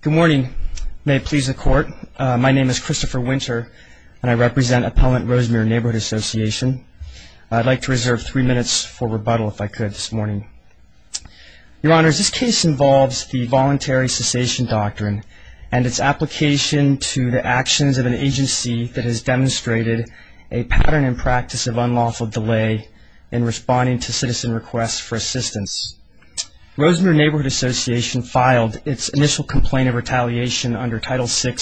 Good morning. May it please the Court. My name is Christopher Winter and I represent Appellant Rosemere Neighborhood Association. I'd like to reserve three minutes for rebuttal if I could this morning. Your Honors, this case involves the Voluntary Cessation Doctrine and its application to the actions of an agency that has demonstrated a pattern and practice of unlawful delay in responding to citizen requests for assistance. Rosemere Neighborhood Association filed its initial complaint of retaliation under Title VI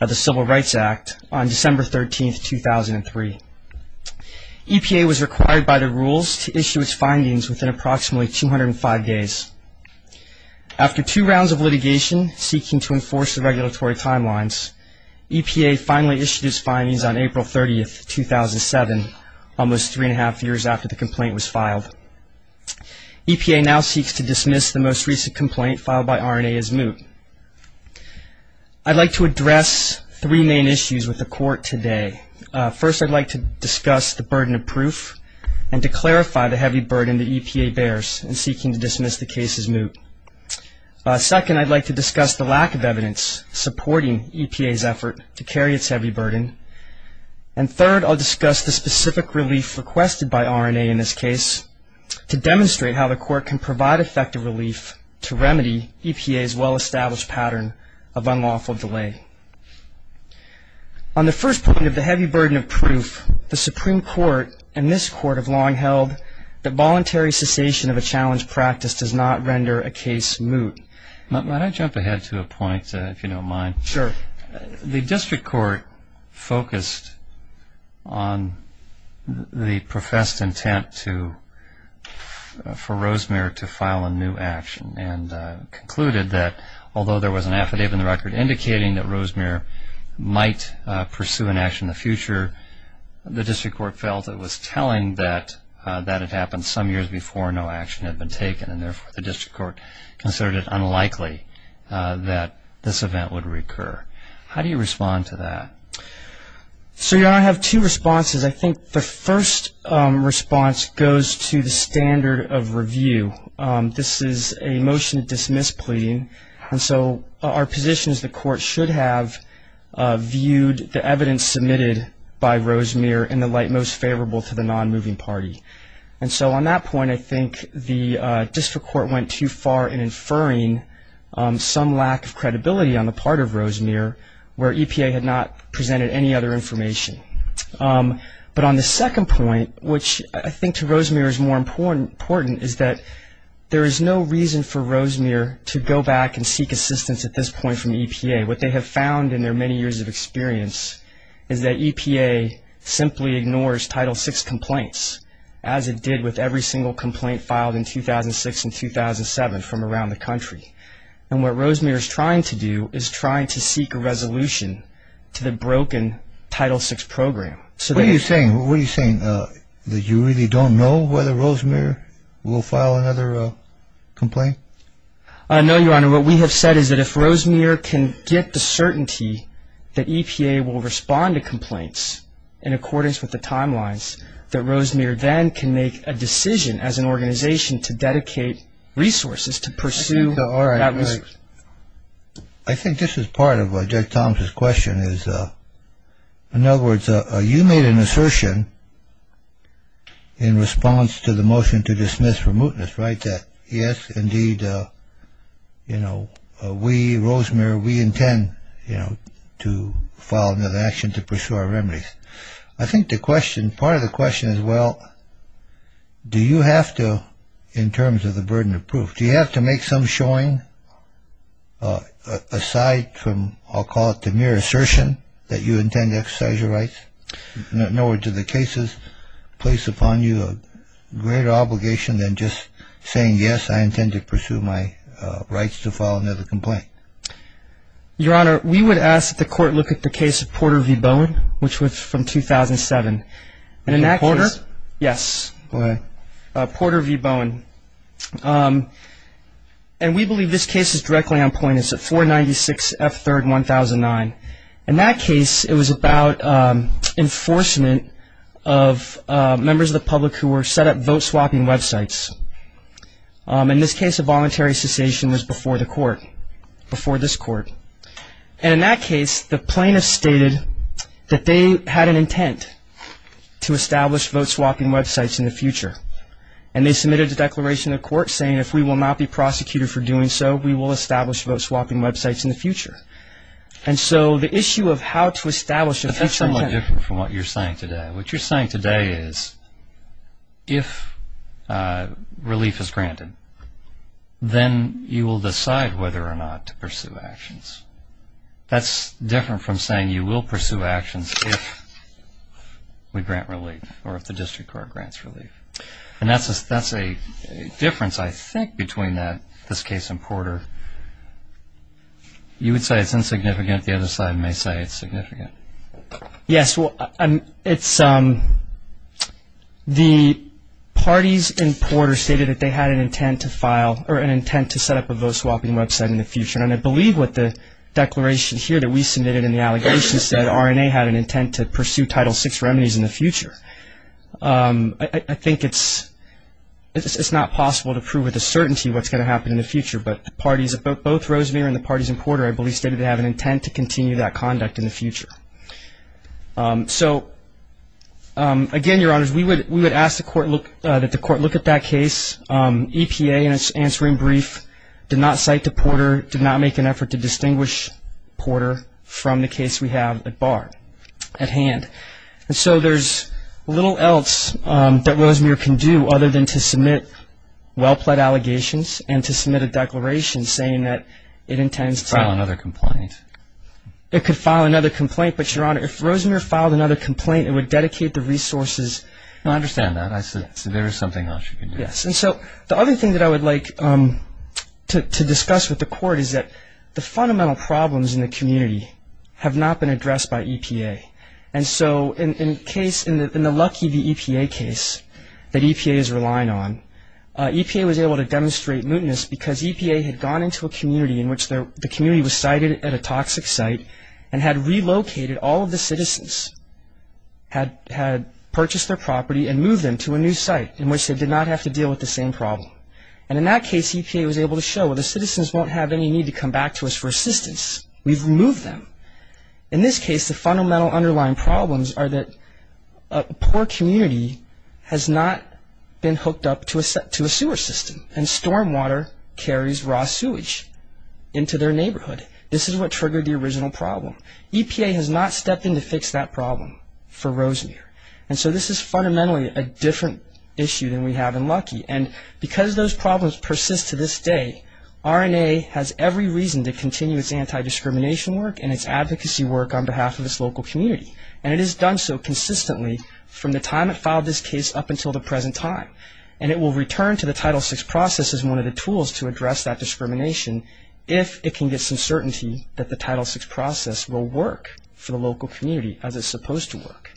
of the Civil Rights Act on December 13, 2003. EPA was required by the rules to issue its findings within approximately 205 days. After two rounds of litigation seeking to enforce the regulatory timelines, EPA finally issued its findings on April 30, 2007, almost three and a half years after the complaint was filed. EPA now seeks to dismiss the most recent complaint filed by RNA as moot. I'd like to address three main issues with the Court today. First, I'd like to discuss the burden of proof and to clarify the heavy burden that EPA bears in seeking to dismiss the case as moot. Second, I'd like to discuss the lack of evidence supporting EPA's effort to carry its heavy burden. And third, I'll discuss the specific relief requested by RNA in this case to demonstrate how the Court can provide effective relief to remedy EPA's well-established pattern of unlawful delay. On the first point of the heavy burden of proof, the Supreme Court and this Court have long held that voluntary cessation of a challenge practice does not render a case moot. May I jump ahead to a point, if you don't mind? Sure. The District Court focused on the professed intent for Rosemary to file a new action and concluded that although there was an affidavit in the record indicating that Rosemary might pursue an action in the future, the District Court felt it was telling that that had happened some years before no action had been taken and therefore the District Court considered it unlikely that this event would recur. How do you respond to that? I have two responses. I think the first response goes to the standard of review. This is a motion to dismiss pleading, and so our position is the Court should have viewed the evidence submitted by Rosemary in the light most favorable to the non-moving party. On that point, I think the District Court went too far in inferring some lack of credibility on the part of Rosemary where EPA had not presented any other information. On the second point, which I think to Rosemary is more important, is that there is no reason for Rosemary to go back and seek assistance at this point from EPA. What they have found in their many years of experience is that EPA simply ignores Title VI complaints as it did with every single complaint filed in 2006 and 2007 from around the country, and what Rosemary is trying to do is trying to seek a resolution to the broken Title VI program. What are you saying? What are you saying? That you really don't know whether Rosemary will file another complaint? No, Your Honor. What we have said is that if Rosemary can get the certainty that EPA will respond to complaints in accordance with the timelines, that Rosemary then can make a decision as an organization to dedicate resources to pursue that resolution. I think this is part of Judge Thomas's question is, in other words, you made an assertion in response to the motion to dismiss for mootness, right, that yes, indeed, you know, we, Rosemary, we intend, you know, to file another action to pursue our remedies. I think the question, part of the question is, well, do you have to, in terms of the burden of proof, do you have to make some showing aside from, I'll call it the mere assertion that you intend to exercise your rights, in other words, do the cases place upon you a greater obligation than just saying, yes, I intend to pursue my rights to file another complaint? Your Honor, we would ask that the court look at the case of Porter v. Bowen, which was from 2007. Porter? Yes. Go ahead. Porter v. Bowen. And we believe this case is directly on point. It's at 496 F3rd 1009. In that case, it was about enforcement of members of the public who were set up vote swapping websites. In this case, a voluntary cessation was before the court. And in that case, the plaintiff stated that they had an intent to establish vote swapping websites in the future. And they submitted a declaration to the court saying if we will not be prosecuted for doing so, we will establish vote swapping websites in the future. And so the issue of how to establish a future intent. That's somewhat different from what you're saying today. What you're saying today is if relief is granted, then you will decide whether or not to pursue actions. That's different from saying you will pursue actions if we grant relief or if the district court grants relief. And that's a difference, I think, between this case and Porter. You would say it's insignificant. The other side may say it's significant. Yes, well, it's the parties in Porter stated that they had an intent to file or an intent to set up a vote swapping website in the future. And I believe what the declaration here that we submitted in the allegation said, RNA had an intent to pursue Title VI remedies in the future. I think it's not possible to prove with a certainty what's going to happen in the future. But both Rosemere and the parties in Porter, I believe, stated they have an intent to continue that conduct in the future. So, again, Your Honors, we would ask that the court look at that case. EPA, in its answering brief, did not cite to Porter, did not make an effort to distinguish Porter from the case we have at hand. And so there's little else that Rosemere can do other than to submit well-pled allegations and to submit a declaration saying that it intends to. File another complaint. It could file another complaint. But, Your Honor, if Rosemere filed another complaint, it would dedicate the resources. No, I understand that. There is something else you can do. Yes, and so the other thing that I would like to discuss with the court is that the fundamental problems in the community have not been addressed by EPA. And so in the Lucky v. EPA case that EPA is relying on, EPA was able to demonstrate mootness because EPA had gone into a community in which the community was cited at a toxic site and had relocated all of the citizens, had purchased their property and moved them to a new site in which they did not have to deal with the same problem. And in that case, EPA was able to show, well, the citizens won't have any need to come back to us for assistance. We've removed them. In this case, the fundamental underlying problems are that a poor community has not been hooked up to a sewer system and stormwater carries raw sewage into their neighborhood. This is what triggered the original problem. EPA has not stepped in to fix that problem for Rosemere. And so this is fundamentally a different issue than we have in Lucky. And because those problems persist to this day, RNA has every reason to continue its anti-discrimination work and its advocacy work on behalf of its local community. And it has done so consistently from the time it filed this case up until the present time. And it will return to the Title VI process as one of the tools to address that discrimination if it can get some certainty that the Title VI process will work for the local community as it's supposed to work.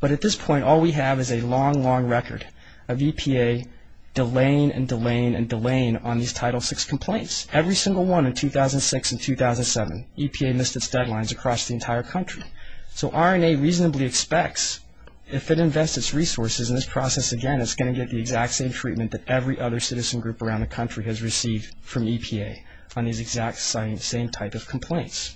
But at this point, all we have is a long, long record of EPA delaying and delaying and delaying on these Title VI complaints. Every single one in 2006 and 2007, EPA missed its deadlines across the entire country. So RNA reasonably expects if it invests its resources in this process again, it's going to get the exact same treatment that every other citizen group around the country has received from EPA on these exact same type of complaints.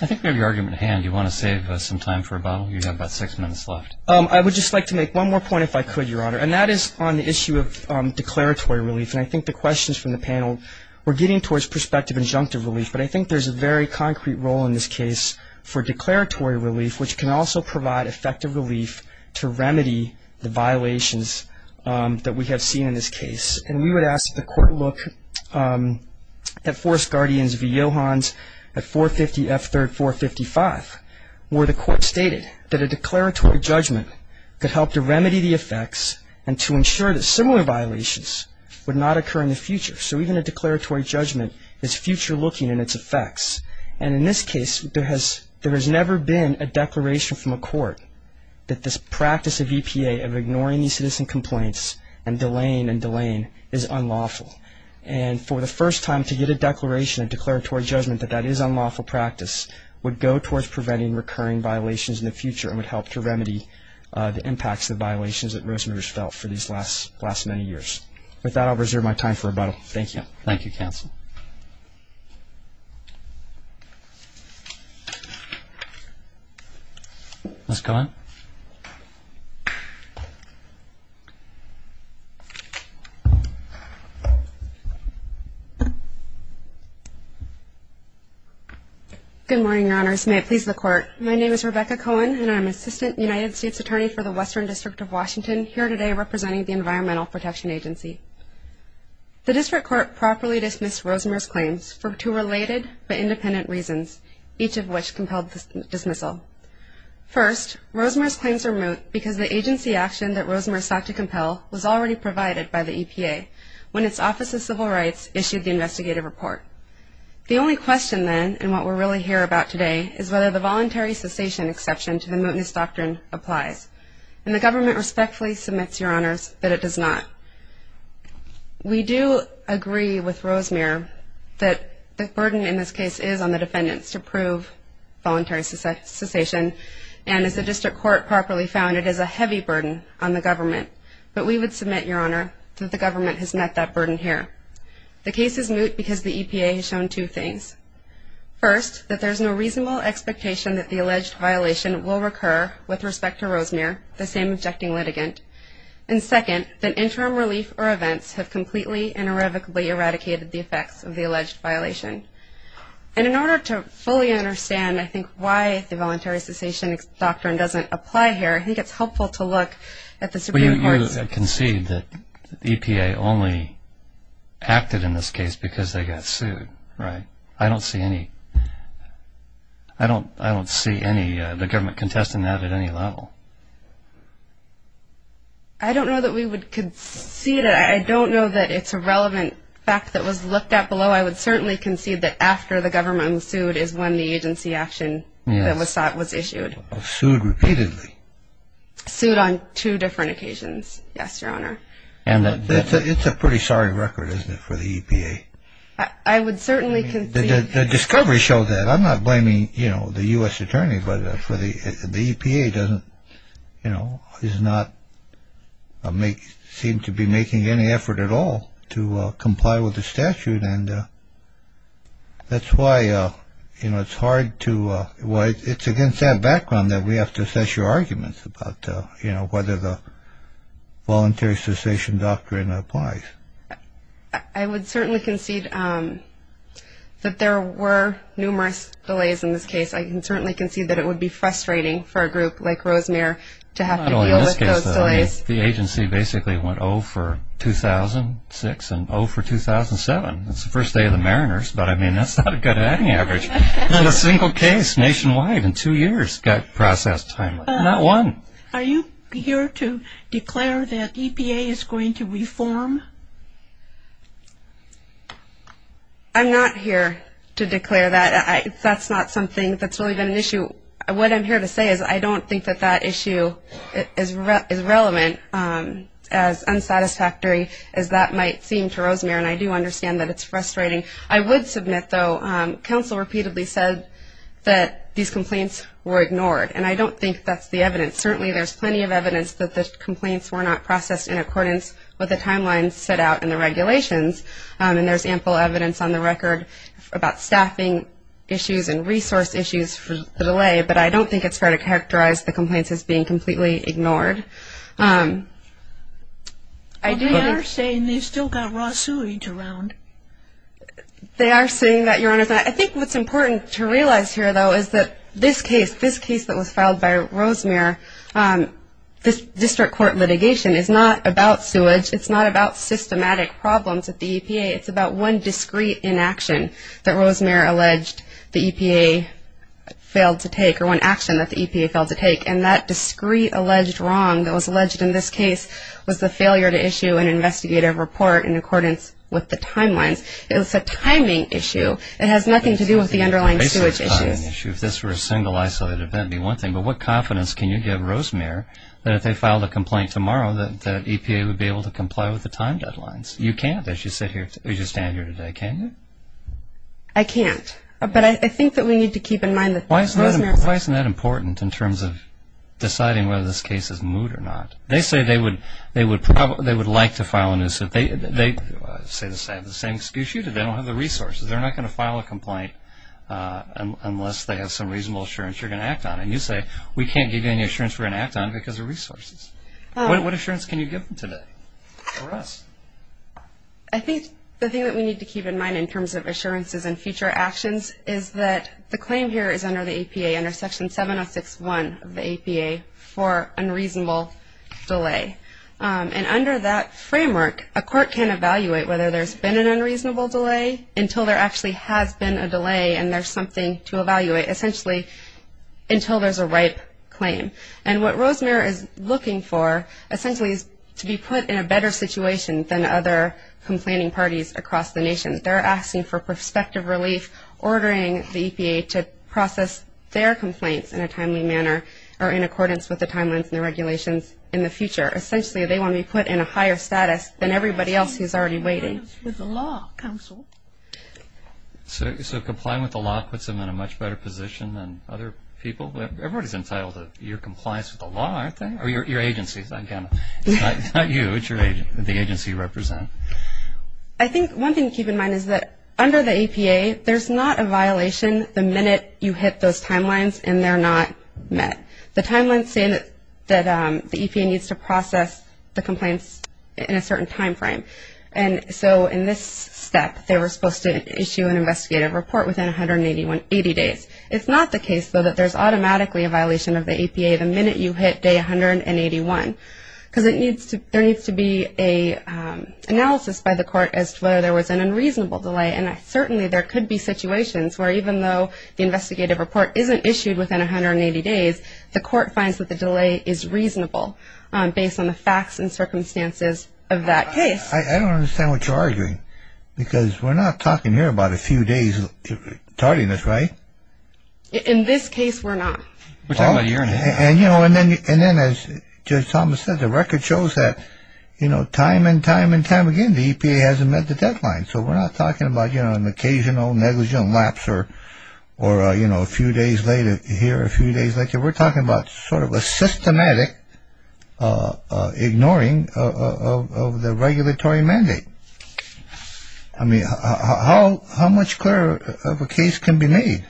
I think we have your argument at hand. Do you want to save us some time for a bottle? You have about six minutes left. I would just like to make one more point if I could, Your Honor. And that is on the issue of declaratory relief. And I think the questions from the panel were getting towards prospective injunctive relief. But I think there's a very concrete role in this case for declaratory relief, which can also provide effective relief to remedy the violations that we have seen in this case. And we would ask that the Court look at Forest Guardians v. Johans at 450 F3rd 455, where the Court stated that a declaratory judgment could help to remedy the effects and to ensure that similar violations would not occur in the future. So even a declaratory judgment is future-looking in its effects. And in this case, there has never been a declaration from a court that this practice of EPA, of ignoring these citizen complaints and delaying and delaying, is unlawful. And for the first time, to get a declaration and declaratory judgment that that is unlawful practice would go towards preventing recurring violations in the future and would help to remedy the impacts of the violations that Rosenberg has felt for these last many years. With that, I'll reserve my time for rebuttal. Thank you. Thank you, counsel. Ms. Cohen. Good morning, Your Honors. May it please the Court, my name is Rebecca Cohen, and I'm Assistant United States Attorney for the Western District of Washington, here today representing the Environmental Protection Agency. The District Court properly dismissed Rosenberg's claims for two related but independent reasons, each of which compelled the dismissal. First, Rosenberg's claims are moot because the agency action that Rosenberg sought to compel was already provided by the EPA when its Office of Civil Rights issued the investigative report. The only question then, and what we're really here about today, is whether the voluntary cessation exception to the mootness doctrine applies. And the government respectfully submits, Your Honors, that it does not. We do agree with Rosenberg that the burden in this case is on the defendants to prove voluntary cessation, and as the District Court properly found, it is a heavy burden on the government. But we would submit, Your Honor, that the government has met that burden here. The case is moot because the EPA has shown two things. First, that there's no reasonable expectation that the alleged violation will recur with respect to Rosenberg, the same objecting litigant. And second, that interim relief or events have completely and irrevocably eradicated the effects of the alleged violation. And in order to fully understand, I think, why the voluntary cessation doctrine doesn't apply here, I think it's helpful to look at the Supreme Court's... I don't see any... I don't see the government contesting that at any level. I don't know that we would concede it. I don't know that it's a relevant fact that was looked at below. I would certainly concede that after the government was sued is when the agency action that was sought was issued. Sued repeatedly? Sued on two different occasions, yes, Your Honor. It's a pretty sorry record, isn't it, for the EPA? I would certainly concede... The discovery shows that. I'm not blaming, you know, the U.S. Attorney, but for the EPA doesn't, you know, is not seem to be making any effort at all to comply with the statute. And that's why, you know, it's hard to... It's against that background that we have to assess your arguments about, you know, whether the voluntary cessation doctrine applies. I would certainly concede that there were numerous delays in this case. I can certainly concede that it would be frustrating for a group like Rosemere to have to deal with those delays. Well, in this case, the agency basically went 0 for 2006 and 0 for 2007. It's the first day of the Mariners, but, I mean, that's not good at any average. Not a single case nationwide in two years got processed timely. Not one. Are you here to declare that EPA is going to reform? I'm not here to declare that. That's not something that's really been an issue. What I'm here to say is I don't think that that issue is relevant as unsatisfactory as that might seem to Rosemere, and I do understand that it's frustrating. I would submit, though, counsel repeatedly said that these complaints were ignored, and I don't think that's the evidence. Certainly there's plenty of evidence that the complaints were not processed in accordance with the timelines set out in the regulations, and there's ample evidence on the record about staffing issues and resource issues for the delay, but I don't think it's fair to characterize the complaints as being completely ignored. They are saying they've still got raw sewage around. They are saying that, Your Honor. I think what's important to realize here, though, is that this case, this case that was filed by Rosemere, this district court litigation is not about sewage. It's not about systematic problems at the EPA. It's about one discrete inaction that Rosemere alleged the EPA failed to take or one action that the EPA failed to take, and that discrete alleged wrong that was alleged in this case was the failure to issue an investigative report in accordance with the timelines. It was a timing issue. It has nothing to do with the underlying sewage issues. It's a timing issue. If this were a single isolated event, it would be one thing, but what confidence can you give Rosemere that if they filed a complaint tomorrow, that EPA would be able to comply with the time deadlines? You can't as you stand here today, can you? I can't, but I think that we need to keep in mind that Rosemere's Why isn't that important in terms of deciding whether this case is moot or not? They say they would like to file a new suit. They have the same excuse you do. They don't have the resources. They're not going to file a complaint unless they have some reasonable assurance you're going to act on, and you say we can't give you any assurance we're going to act on because of resources. What assurance can you give them today or us? I think the thing that we need to keep in mind in terms of assurances and future actions is that the claim here is under the EPA, under Section 706.1 of the EPA for unreasonable delay, and under that framework a court can evaluate whether there's been an unreasonable delay until there actually has been a delay and there's something to evaluate, essentially until there's a ripe claim. And what Rosemere is looking for essentially is to be put in a better situation than other complaining parties across the nation. They're asking for prospective relief, ordering the EPA to process their complaints in a timely manner or in accordance with the timelines and the regulations in the future. Essentially they want to be put in a higher status than everybody else who's already waiting. Compliance with the law, counsel. So complying with the law puts them in a much better position than other people? Everybody's entitled to your compliance with the law, aren't they? Or your agency, not you, it's the agency you represent. I think one thing to keep in mind is that under the EPA, there's not a violation the minute you hit those timelines and they're not met. The timelines say that the EPA needs to process the complaints in a certain timeframe. And so in this step, they were supposed to issue an investigative report within 180 days. It's not the case, though, that there's automatically a violation of the EPA the minute you hit day 181 because there needs to be an analysis by the court as to whether there was an unreasonable delay. And certainly there could be situations where even though the investigative report isn't issued within 180 days, the court finds that the delay is reasonable based on the facts and circumstances of that case. I don't understand what you're arguing because we're not talking here about a few days tardiness, right? In this case, we're not. And, you know, and then as Judge Thomas said, the record shows that, you know, time and time and time again, the EPA hasn't met the deadline. So we're not talking about, you know, an occasional negligent lapse or, you know, a few days later here, a few days later. We're talking about sort of a systematic ignoring of the regulatory mandate. I mean, how much clearer of a case can be made?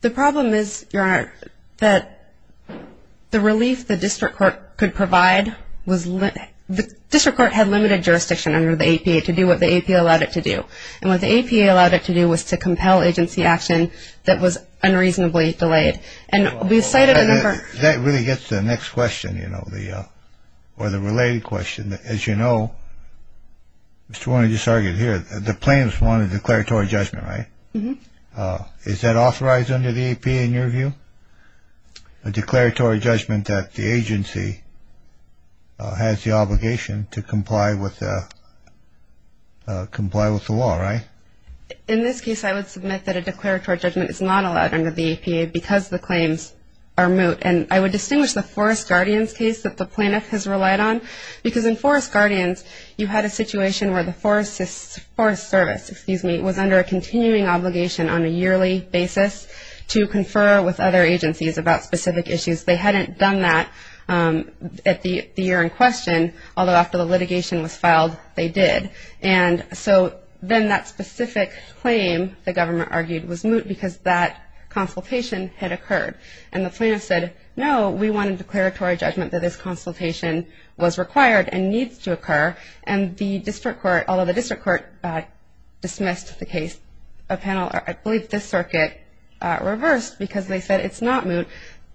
The problem is, Your Honor, that the relief the district court could provide was – the district court had limited jurisdiction under the EPA to do what the EPA allowed it to do. And what the EPA allowed it to do was to compel agency action that was unreasonably delayed. And we've cited a number – That really gets to the next question, you know, or the related question. As you know, Mr. Warner just argued here, the plaintiff's wanted a declaratory judgment, right? Is that authorized under the EPA in your view? A declaratory judgment that the agency has the obligation to comply with the law, right? In this case, I would submit that a declaratory judgment is not allowed under the EPA because the claims are moot. And I would distinguish the Forest Guardians case that the plaintiff has relied on because in Forest Guardians, you had a situation where the Forest Service, excuse me, was under a continuing obligation on a yearly basis to confer with other agencies about specific issues. They hadn't done that at the year in question, although after the litigation was filed, they did. And so then that specific claim, the government argued, was moot because that consultation had occurred. And the plaintiff said, no, we want a declaratory judgment that this consultation was required and needs to occur. And the district court, although the district court dismissed the case, I believe this circuit reversed because they said it's not moot.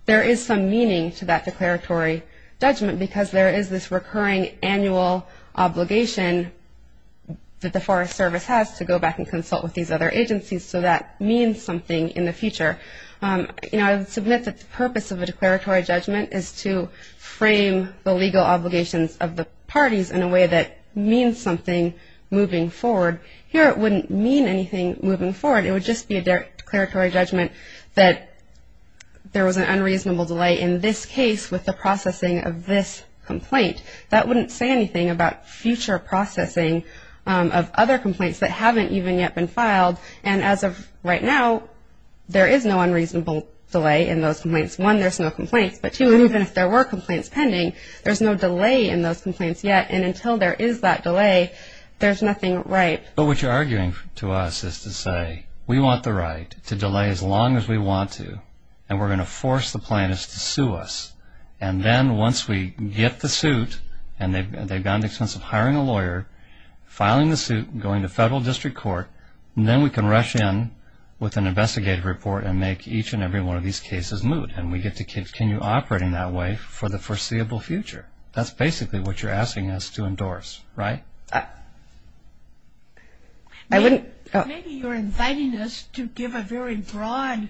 There is some meaning to that declaratory judgment because there is this recurring annual obligation that the Forest Service has to go back and consult with these other agencies, so that means something in the future. You know, I would submit that the purpose of a declaratory judgment is to frame the legal obligations of the parties in a way that means something moving forward. Here it wouldn't mean anything moving forward. It would just be a declaratory judgment that there was an unreasonable delay in this case with the processing of this complaint. That wouldn't say anything about future processing of other complaints that haven't even yet been filed. And as of right now, there is no unreasonable delay in those complaints. One, there's no complaints. But two, even if there were complaints pending, there's no delay in those complaints yet. And until there is that delay, there's nothing right. But what you're arguing to us is to say we want the right to delay as long as we want to, and we're going to force the plaintiffs to sue us. And then once we get the suit and they've gone to the expense of hiring a lawyer, filing the suit, going to federal district court, then we can rush in with an investigative report and make each and every one of these cases moot. And we get to continue operating that way for the foreseeable future. That's basically what you're asking us to endorse, right? Maybe you're inviting us to give a very broad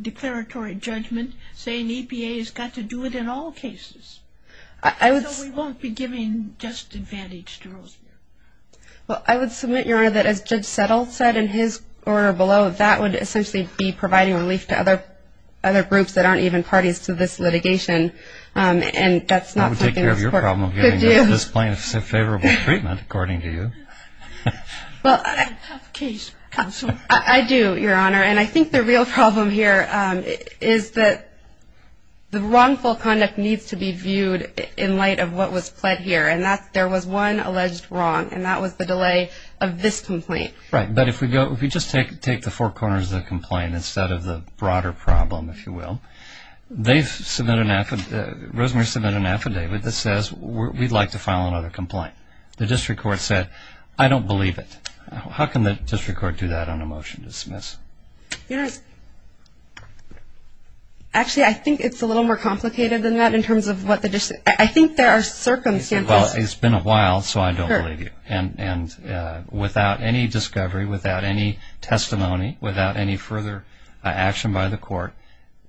declaratory judgment saying EPA has got to do it in all cases. So we won't be giving just advantage to Rosemary. Well, I would submit, Your Honor, that as Judge Settle said in his order below, that would essentially be providing relief to other groups that aren't even parties to this litigation. And that's not something that this court could do. I would take care of your problem of giving this plaintiff a favorable treatment, according to you. You don't have a case, Counselor. I do, Your Honor. And I think the real problem here is that the wrongful conduct needs to be viewed in light of what was pled here. And there was one alleged wrong, and that was the delay of this complaint. Right. But if we just take the four corners of the complaint instead of the broader problem, if you will, Rosemary submitted an affidavit that says we'd like to file another complaint. The district court said, I don't believe it. How can the district court do that on a motion to dismiss? Actually, I think it's a little more complicated than that in terms of what the district – I think there are circumstances. Well, it's been a while, so I don't believe you. And without any discovery, without any testimony, without any further action by the court,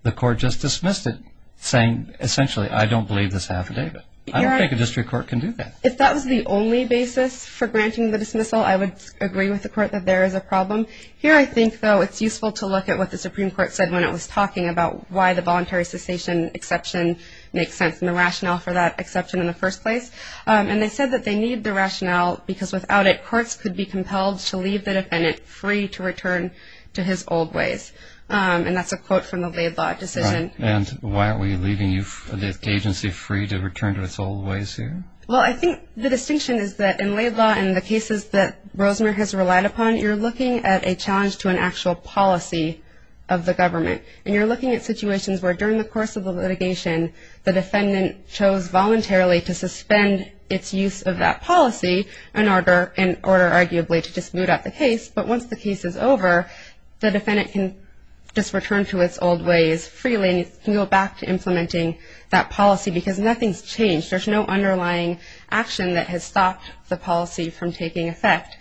the court just dismissed it, saying essentially, I don't believe this affidavit. I don't think a district court can do that. If that was the only basis for granting the dismissal, I would agree with the court that there is a problem. Here, I think, though, it's useful to look at what the Supreme Court said when it was talking about why the voluntary cessation exception makes sense and the rationale for that exception in the first place. And they said that they need the rationale because without it, courts could be compelled to leave the defendant free to return to his old ways. And that's a quote from the Laid Law decision. And why are we leaving the agency free to return to its old ways here? Well, I think the distinction is that in Laid Law and the cases that Rosemary has relied upon, you're looking at a challenge to an actual policy of the government. And you're looking at situations where during the course of the litigation, the defendant chose voluntarily to suspend its use of that policy in order, arguably, to just boot up the case. But once the case is over, the defendant can just return to its old ways freely and can go back to implementing that policy because nothing's changed. There's no underlying action that has stopped the policy from taking effect.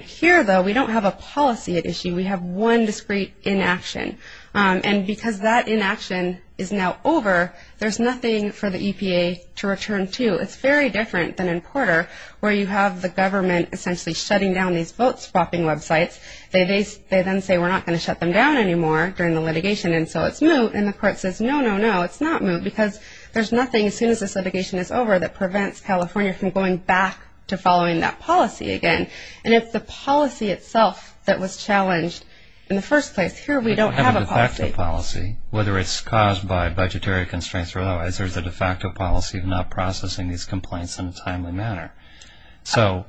Here, though, we don't have a policy at issue. We have one discrete inaction. And because that inaction is now over, there's nothing for the EPA to return to. It's very different than in Porter where you have the government essentially shutting down these vote swapping websites. They then say, we're not going to shut them down anymore during the litigation, and so it's moot. And the court says, no, no, no, it's not moot because there's nothing, as soon as this litigation is over, that prevents California from going back to following that policy again. And if the policy itself that was challenged in the first place, here we don't have a policy. We don't have a de facto policy, whether it's caused by budgetary constraints or otherwise. There's a de facto policy of not processing these complaints in a timely manner. So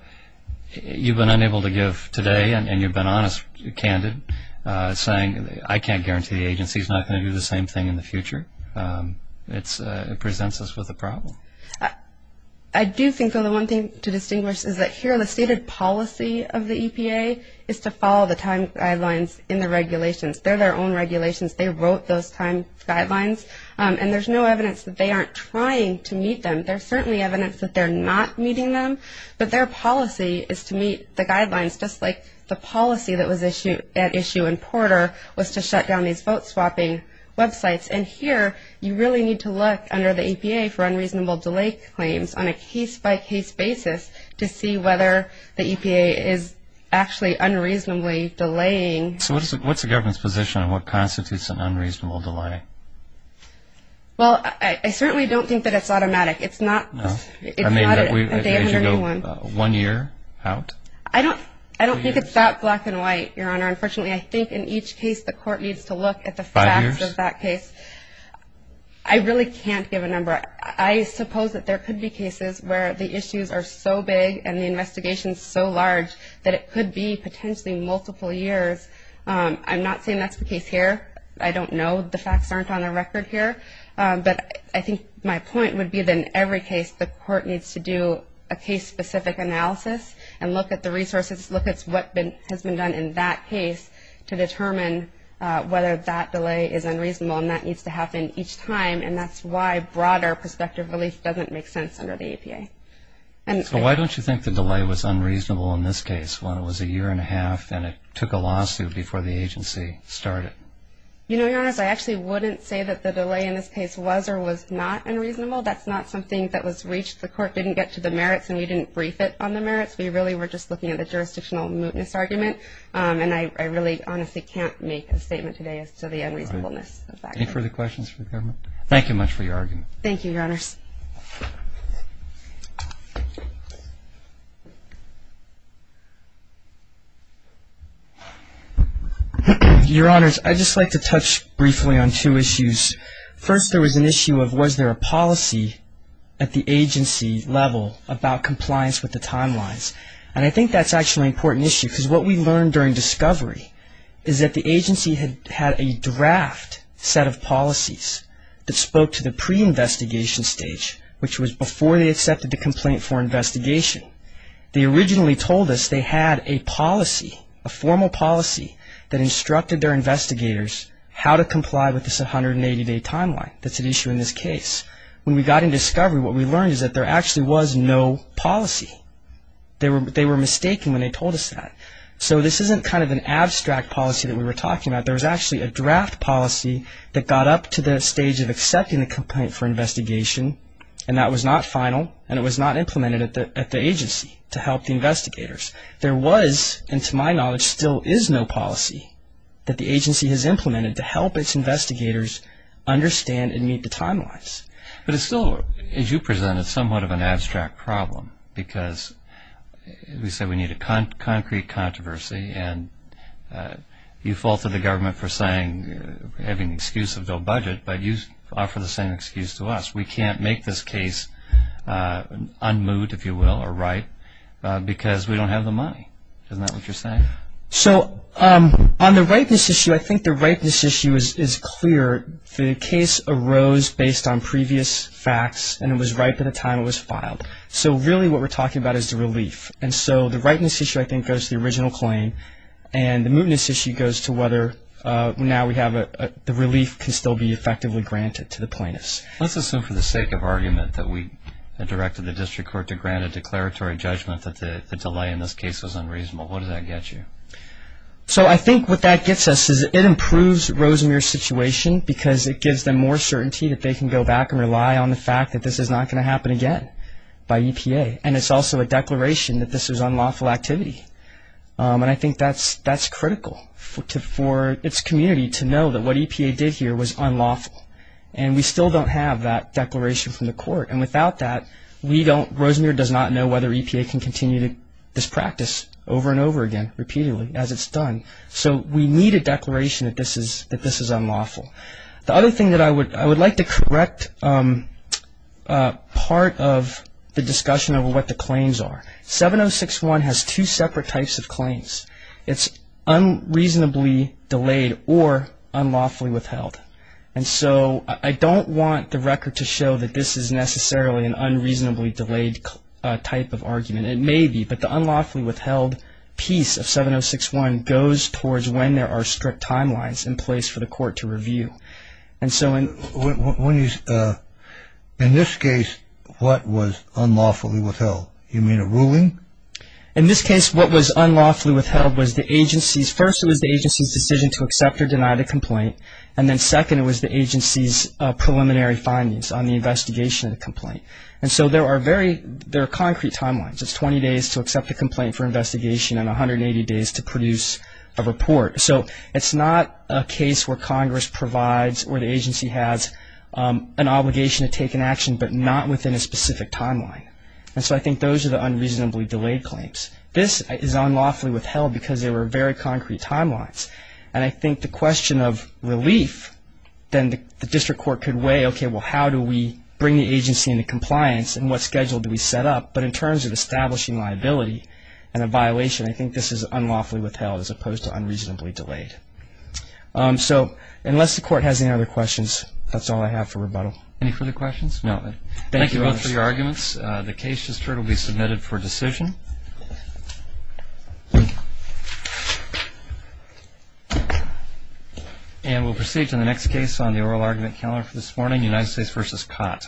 you've been unable to give today, and you've been honest, candid, saying, I can't guarantee the agency's not going to do the same thing in the future. It presents us with a problem. I do think, though, the one thing to distinguish is that here the stated policy of the EPA is to follow the time guidelines in the regulations. They're their own regulations. They wrote those time guidelines, and there's no evidence that they aren't trying to meet them. There's certainly evidence that they're not meeting them, but their policy is to meet the guidelines, just like the policy that was at issue in Porter was to shut down these vote swapping websites. And here you really need to look under the EPA for unreasonable delay claims on a case-by-case basis to see whether the EPA is actually unreasonably delaying. So what's the government's position on what constitutes an unreasonable delay? Well, I certainly don't think that it's automatic. It's not a day under anyone. One year out? I don't think it's that black and white, Your Honor. Unfortunately, I think in each case the court needs to look at the facts of that case. Five years? I really can't give a number. I suppose that there could be cases where the issues are so big and the investigation is so large that it could be potentially multiple years. I'm not saying that's the case here. I don't know. The facts aren't on the record here. But I think my point would be that in every case the court needs to do a case-specific analysis and look at the resources, look at what has been done in that case to determine whether that delay is unreasonable. And that needs to happen each time. And that's why broader prospective relief doesn't make sense under the EPA. So why don't you think the delay was unreasonable in this case when it was a year and a half and it took a lawsuit before the agency started? You know, Your Honor, I actually wouldn't say that the delay in this case was or was not unreasonable. That's not something that was reached. The court didn't get to the merits and we didn't brief it on the merits. We really were just looking at the jurisdictional mootness argument. And I really honestly can't make a statement today as to the unreasonableness of that. Any further questions for the government? Thank you much for your argument. Thank you, Your Honors. Your Honors, I'd just like to touch briefly on two issues. First, there was an issue of was there a policy at the agency level about compliance with the timelines? And I think that's actually an important issue because what we learned during discovery is that the agency had a draft set of policies that spoke to the pre-investigation stage, which was before they accepted the complaint for investigation. They originally told us they had a policy, a formal policy, that instructed their investigators how to comply with this 180-day timeline that's at issue in this case. When we got in discovery, what we learned is that there actually was no policy. They were mistaken when they told us that. So this isn't kind of an abstract policy that we were talking about. There was actually a draft policy that got up to the stage of accepting the complaint for investigation, and that was not final and it was not implemented at the agency to help the investigators. There was, and to my knowledge, still is no policy that the agency has implemented to help its investigators understand and meet the timelines. But it's still, as you presented, somewhat of an abstract problem because we said we need a concrete controversy, and you faulted the government for having the excuse of no budget, but you offer the same excuse to us. We can't make this case unmoot, if you will, or ripe because we don't have the money. Isn't that what you're saying? So on the ripeness issue, I think the ripeness issue is clear. The case arose based on previous facts, and it was ripe at the time it was filed. So really what we're talking about is the relief. And so the ripeness issue, I think, goes to the original claim, and the mootness issue goes to whether now the relief can still be effectively granted to the plaintiffs. Let's assume for the sake of argument that we directed the district court to grant a declaratory judgment that the delay in this case was unreasonable. What does that get you? So I think what that gets us is it improves Rosamere's situation because it gives them more certainty that they can go back and rely on the fact that this is not going to happen again by EPA, and it's also a declaration that this was unlawful activity. And I think that's critical for its community to know that what EPA did here was unlawful, and we still don't have that declaration from the court. And without that, Rosamere does not know whether EPA can continue this practice over and over again, repeatedly, as it's done. So we need a declaration that this is unlawful. The other thing that I would like to correct part of the discussion of what the claims are. 706-1 has two separate types of claims. It's unreasonably delayed or unlawfully withheld. And so I don't want the record to show that this is necessarily an unreasonably delayed type of argument. It may be, but the unlawfully withheld piece of 706-1 goes towards when there are strict timelines in place for the court to review. And so in this case, what was unlawfully withheld? You mean a ruling? In this case, what was unlawfully withheld was the agency's – first it was the agency's decision to accept or deny the complaint, and then second it was the agency's preliminary findings on the investigation of the complaint. And so there are very – there are concrete timelines. It's 20 days to accept a complaint for investigation and 180 days to produce a report. So it's not a case where Congress provides or the agency has an obligation to take an action but not within a specific timeline. And so I think those are the unreasonably delayed claims. This is unlawfully withheld because there were very concrete timelines. And I think the question of relief, then the district court could weigh, okay, well how do we bring the agency into compliance and what schedule do we set up? But in terms of establishing liability and a violation, I think this is unlawfully withheld as opposed to unreasonably delayed. So unless the court has any other questions, that's all I have for rebuttal. Any further questions? No. Thank you both for your arguments. The case just heard will be submitted for decision. And we'll proceed to the next case on the oral argument calendar for this morning, United States v. Cott. Thank you.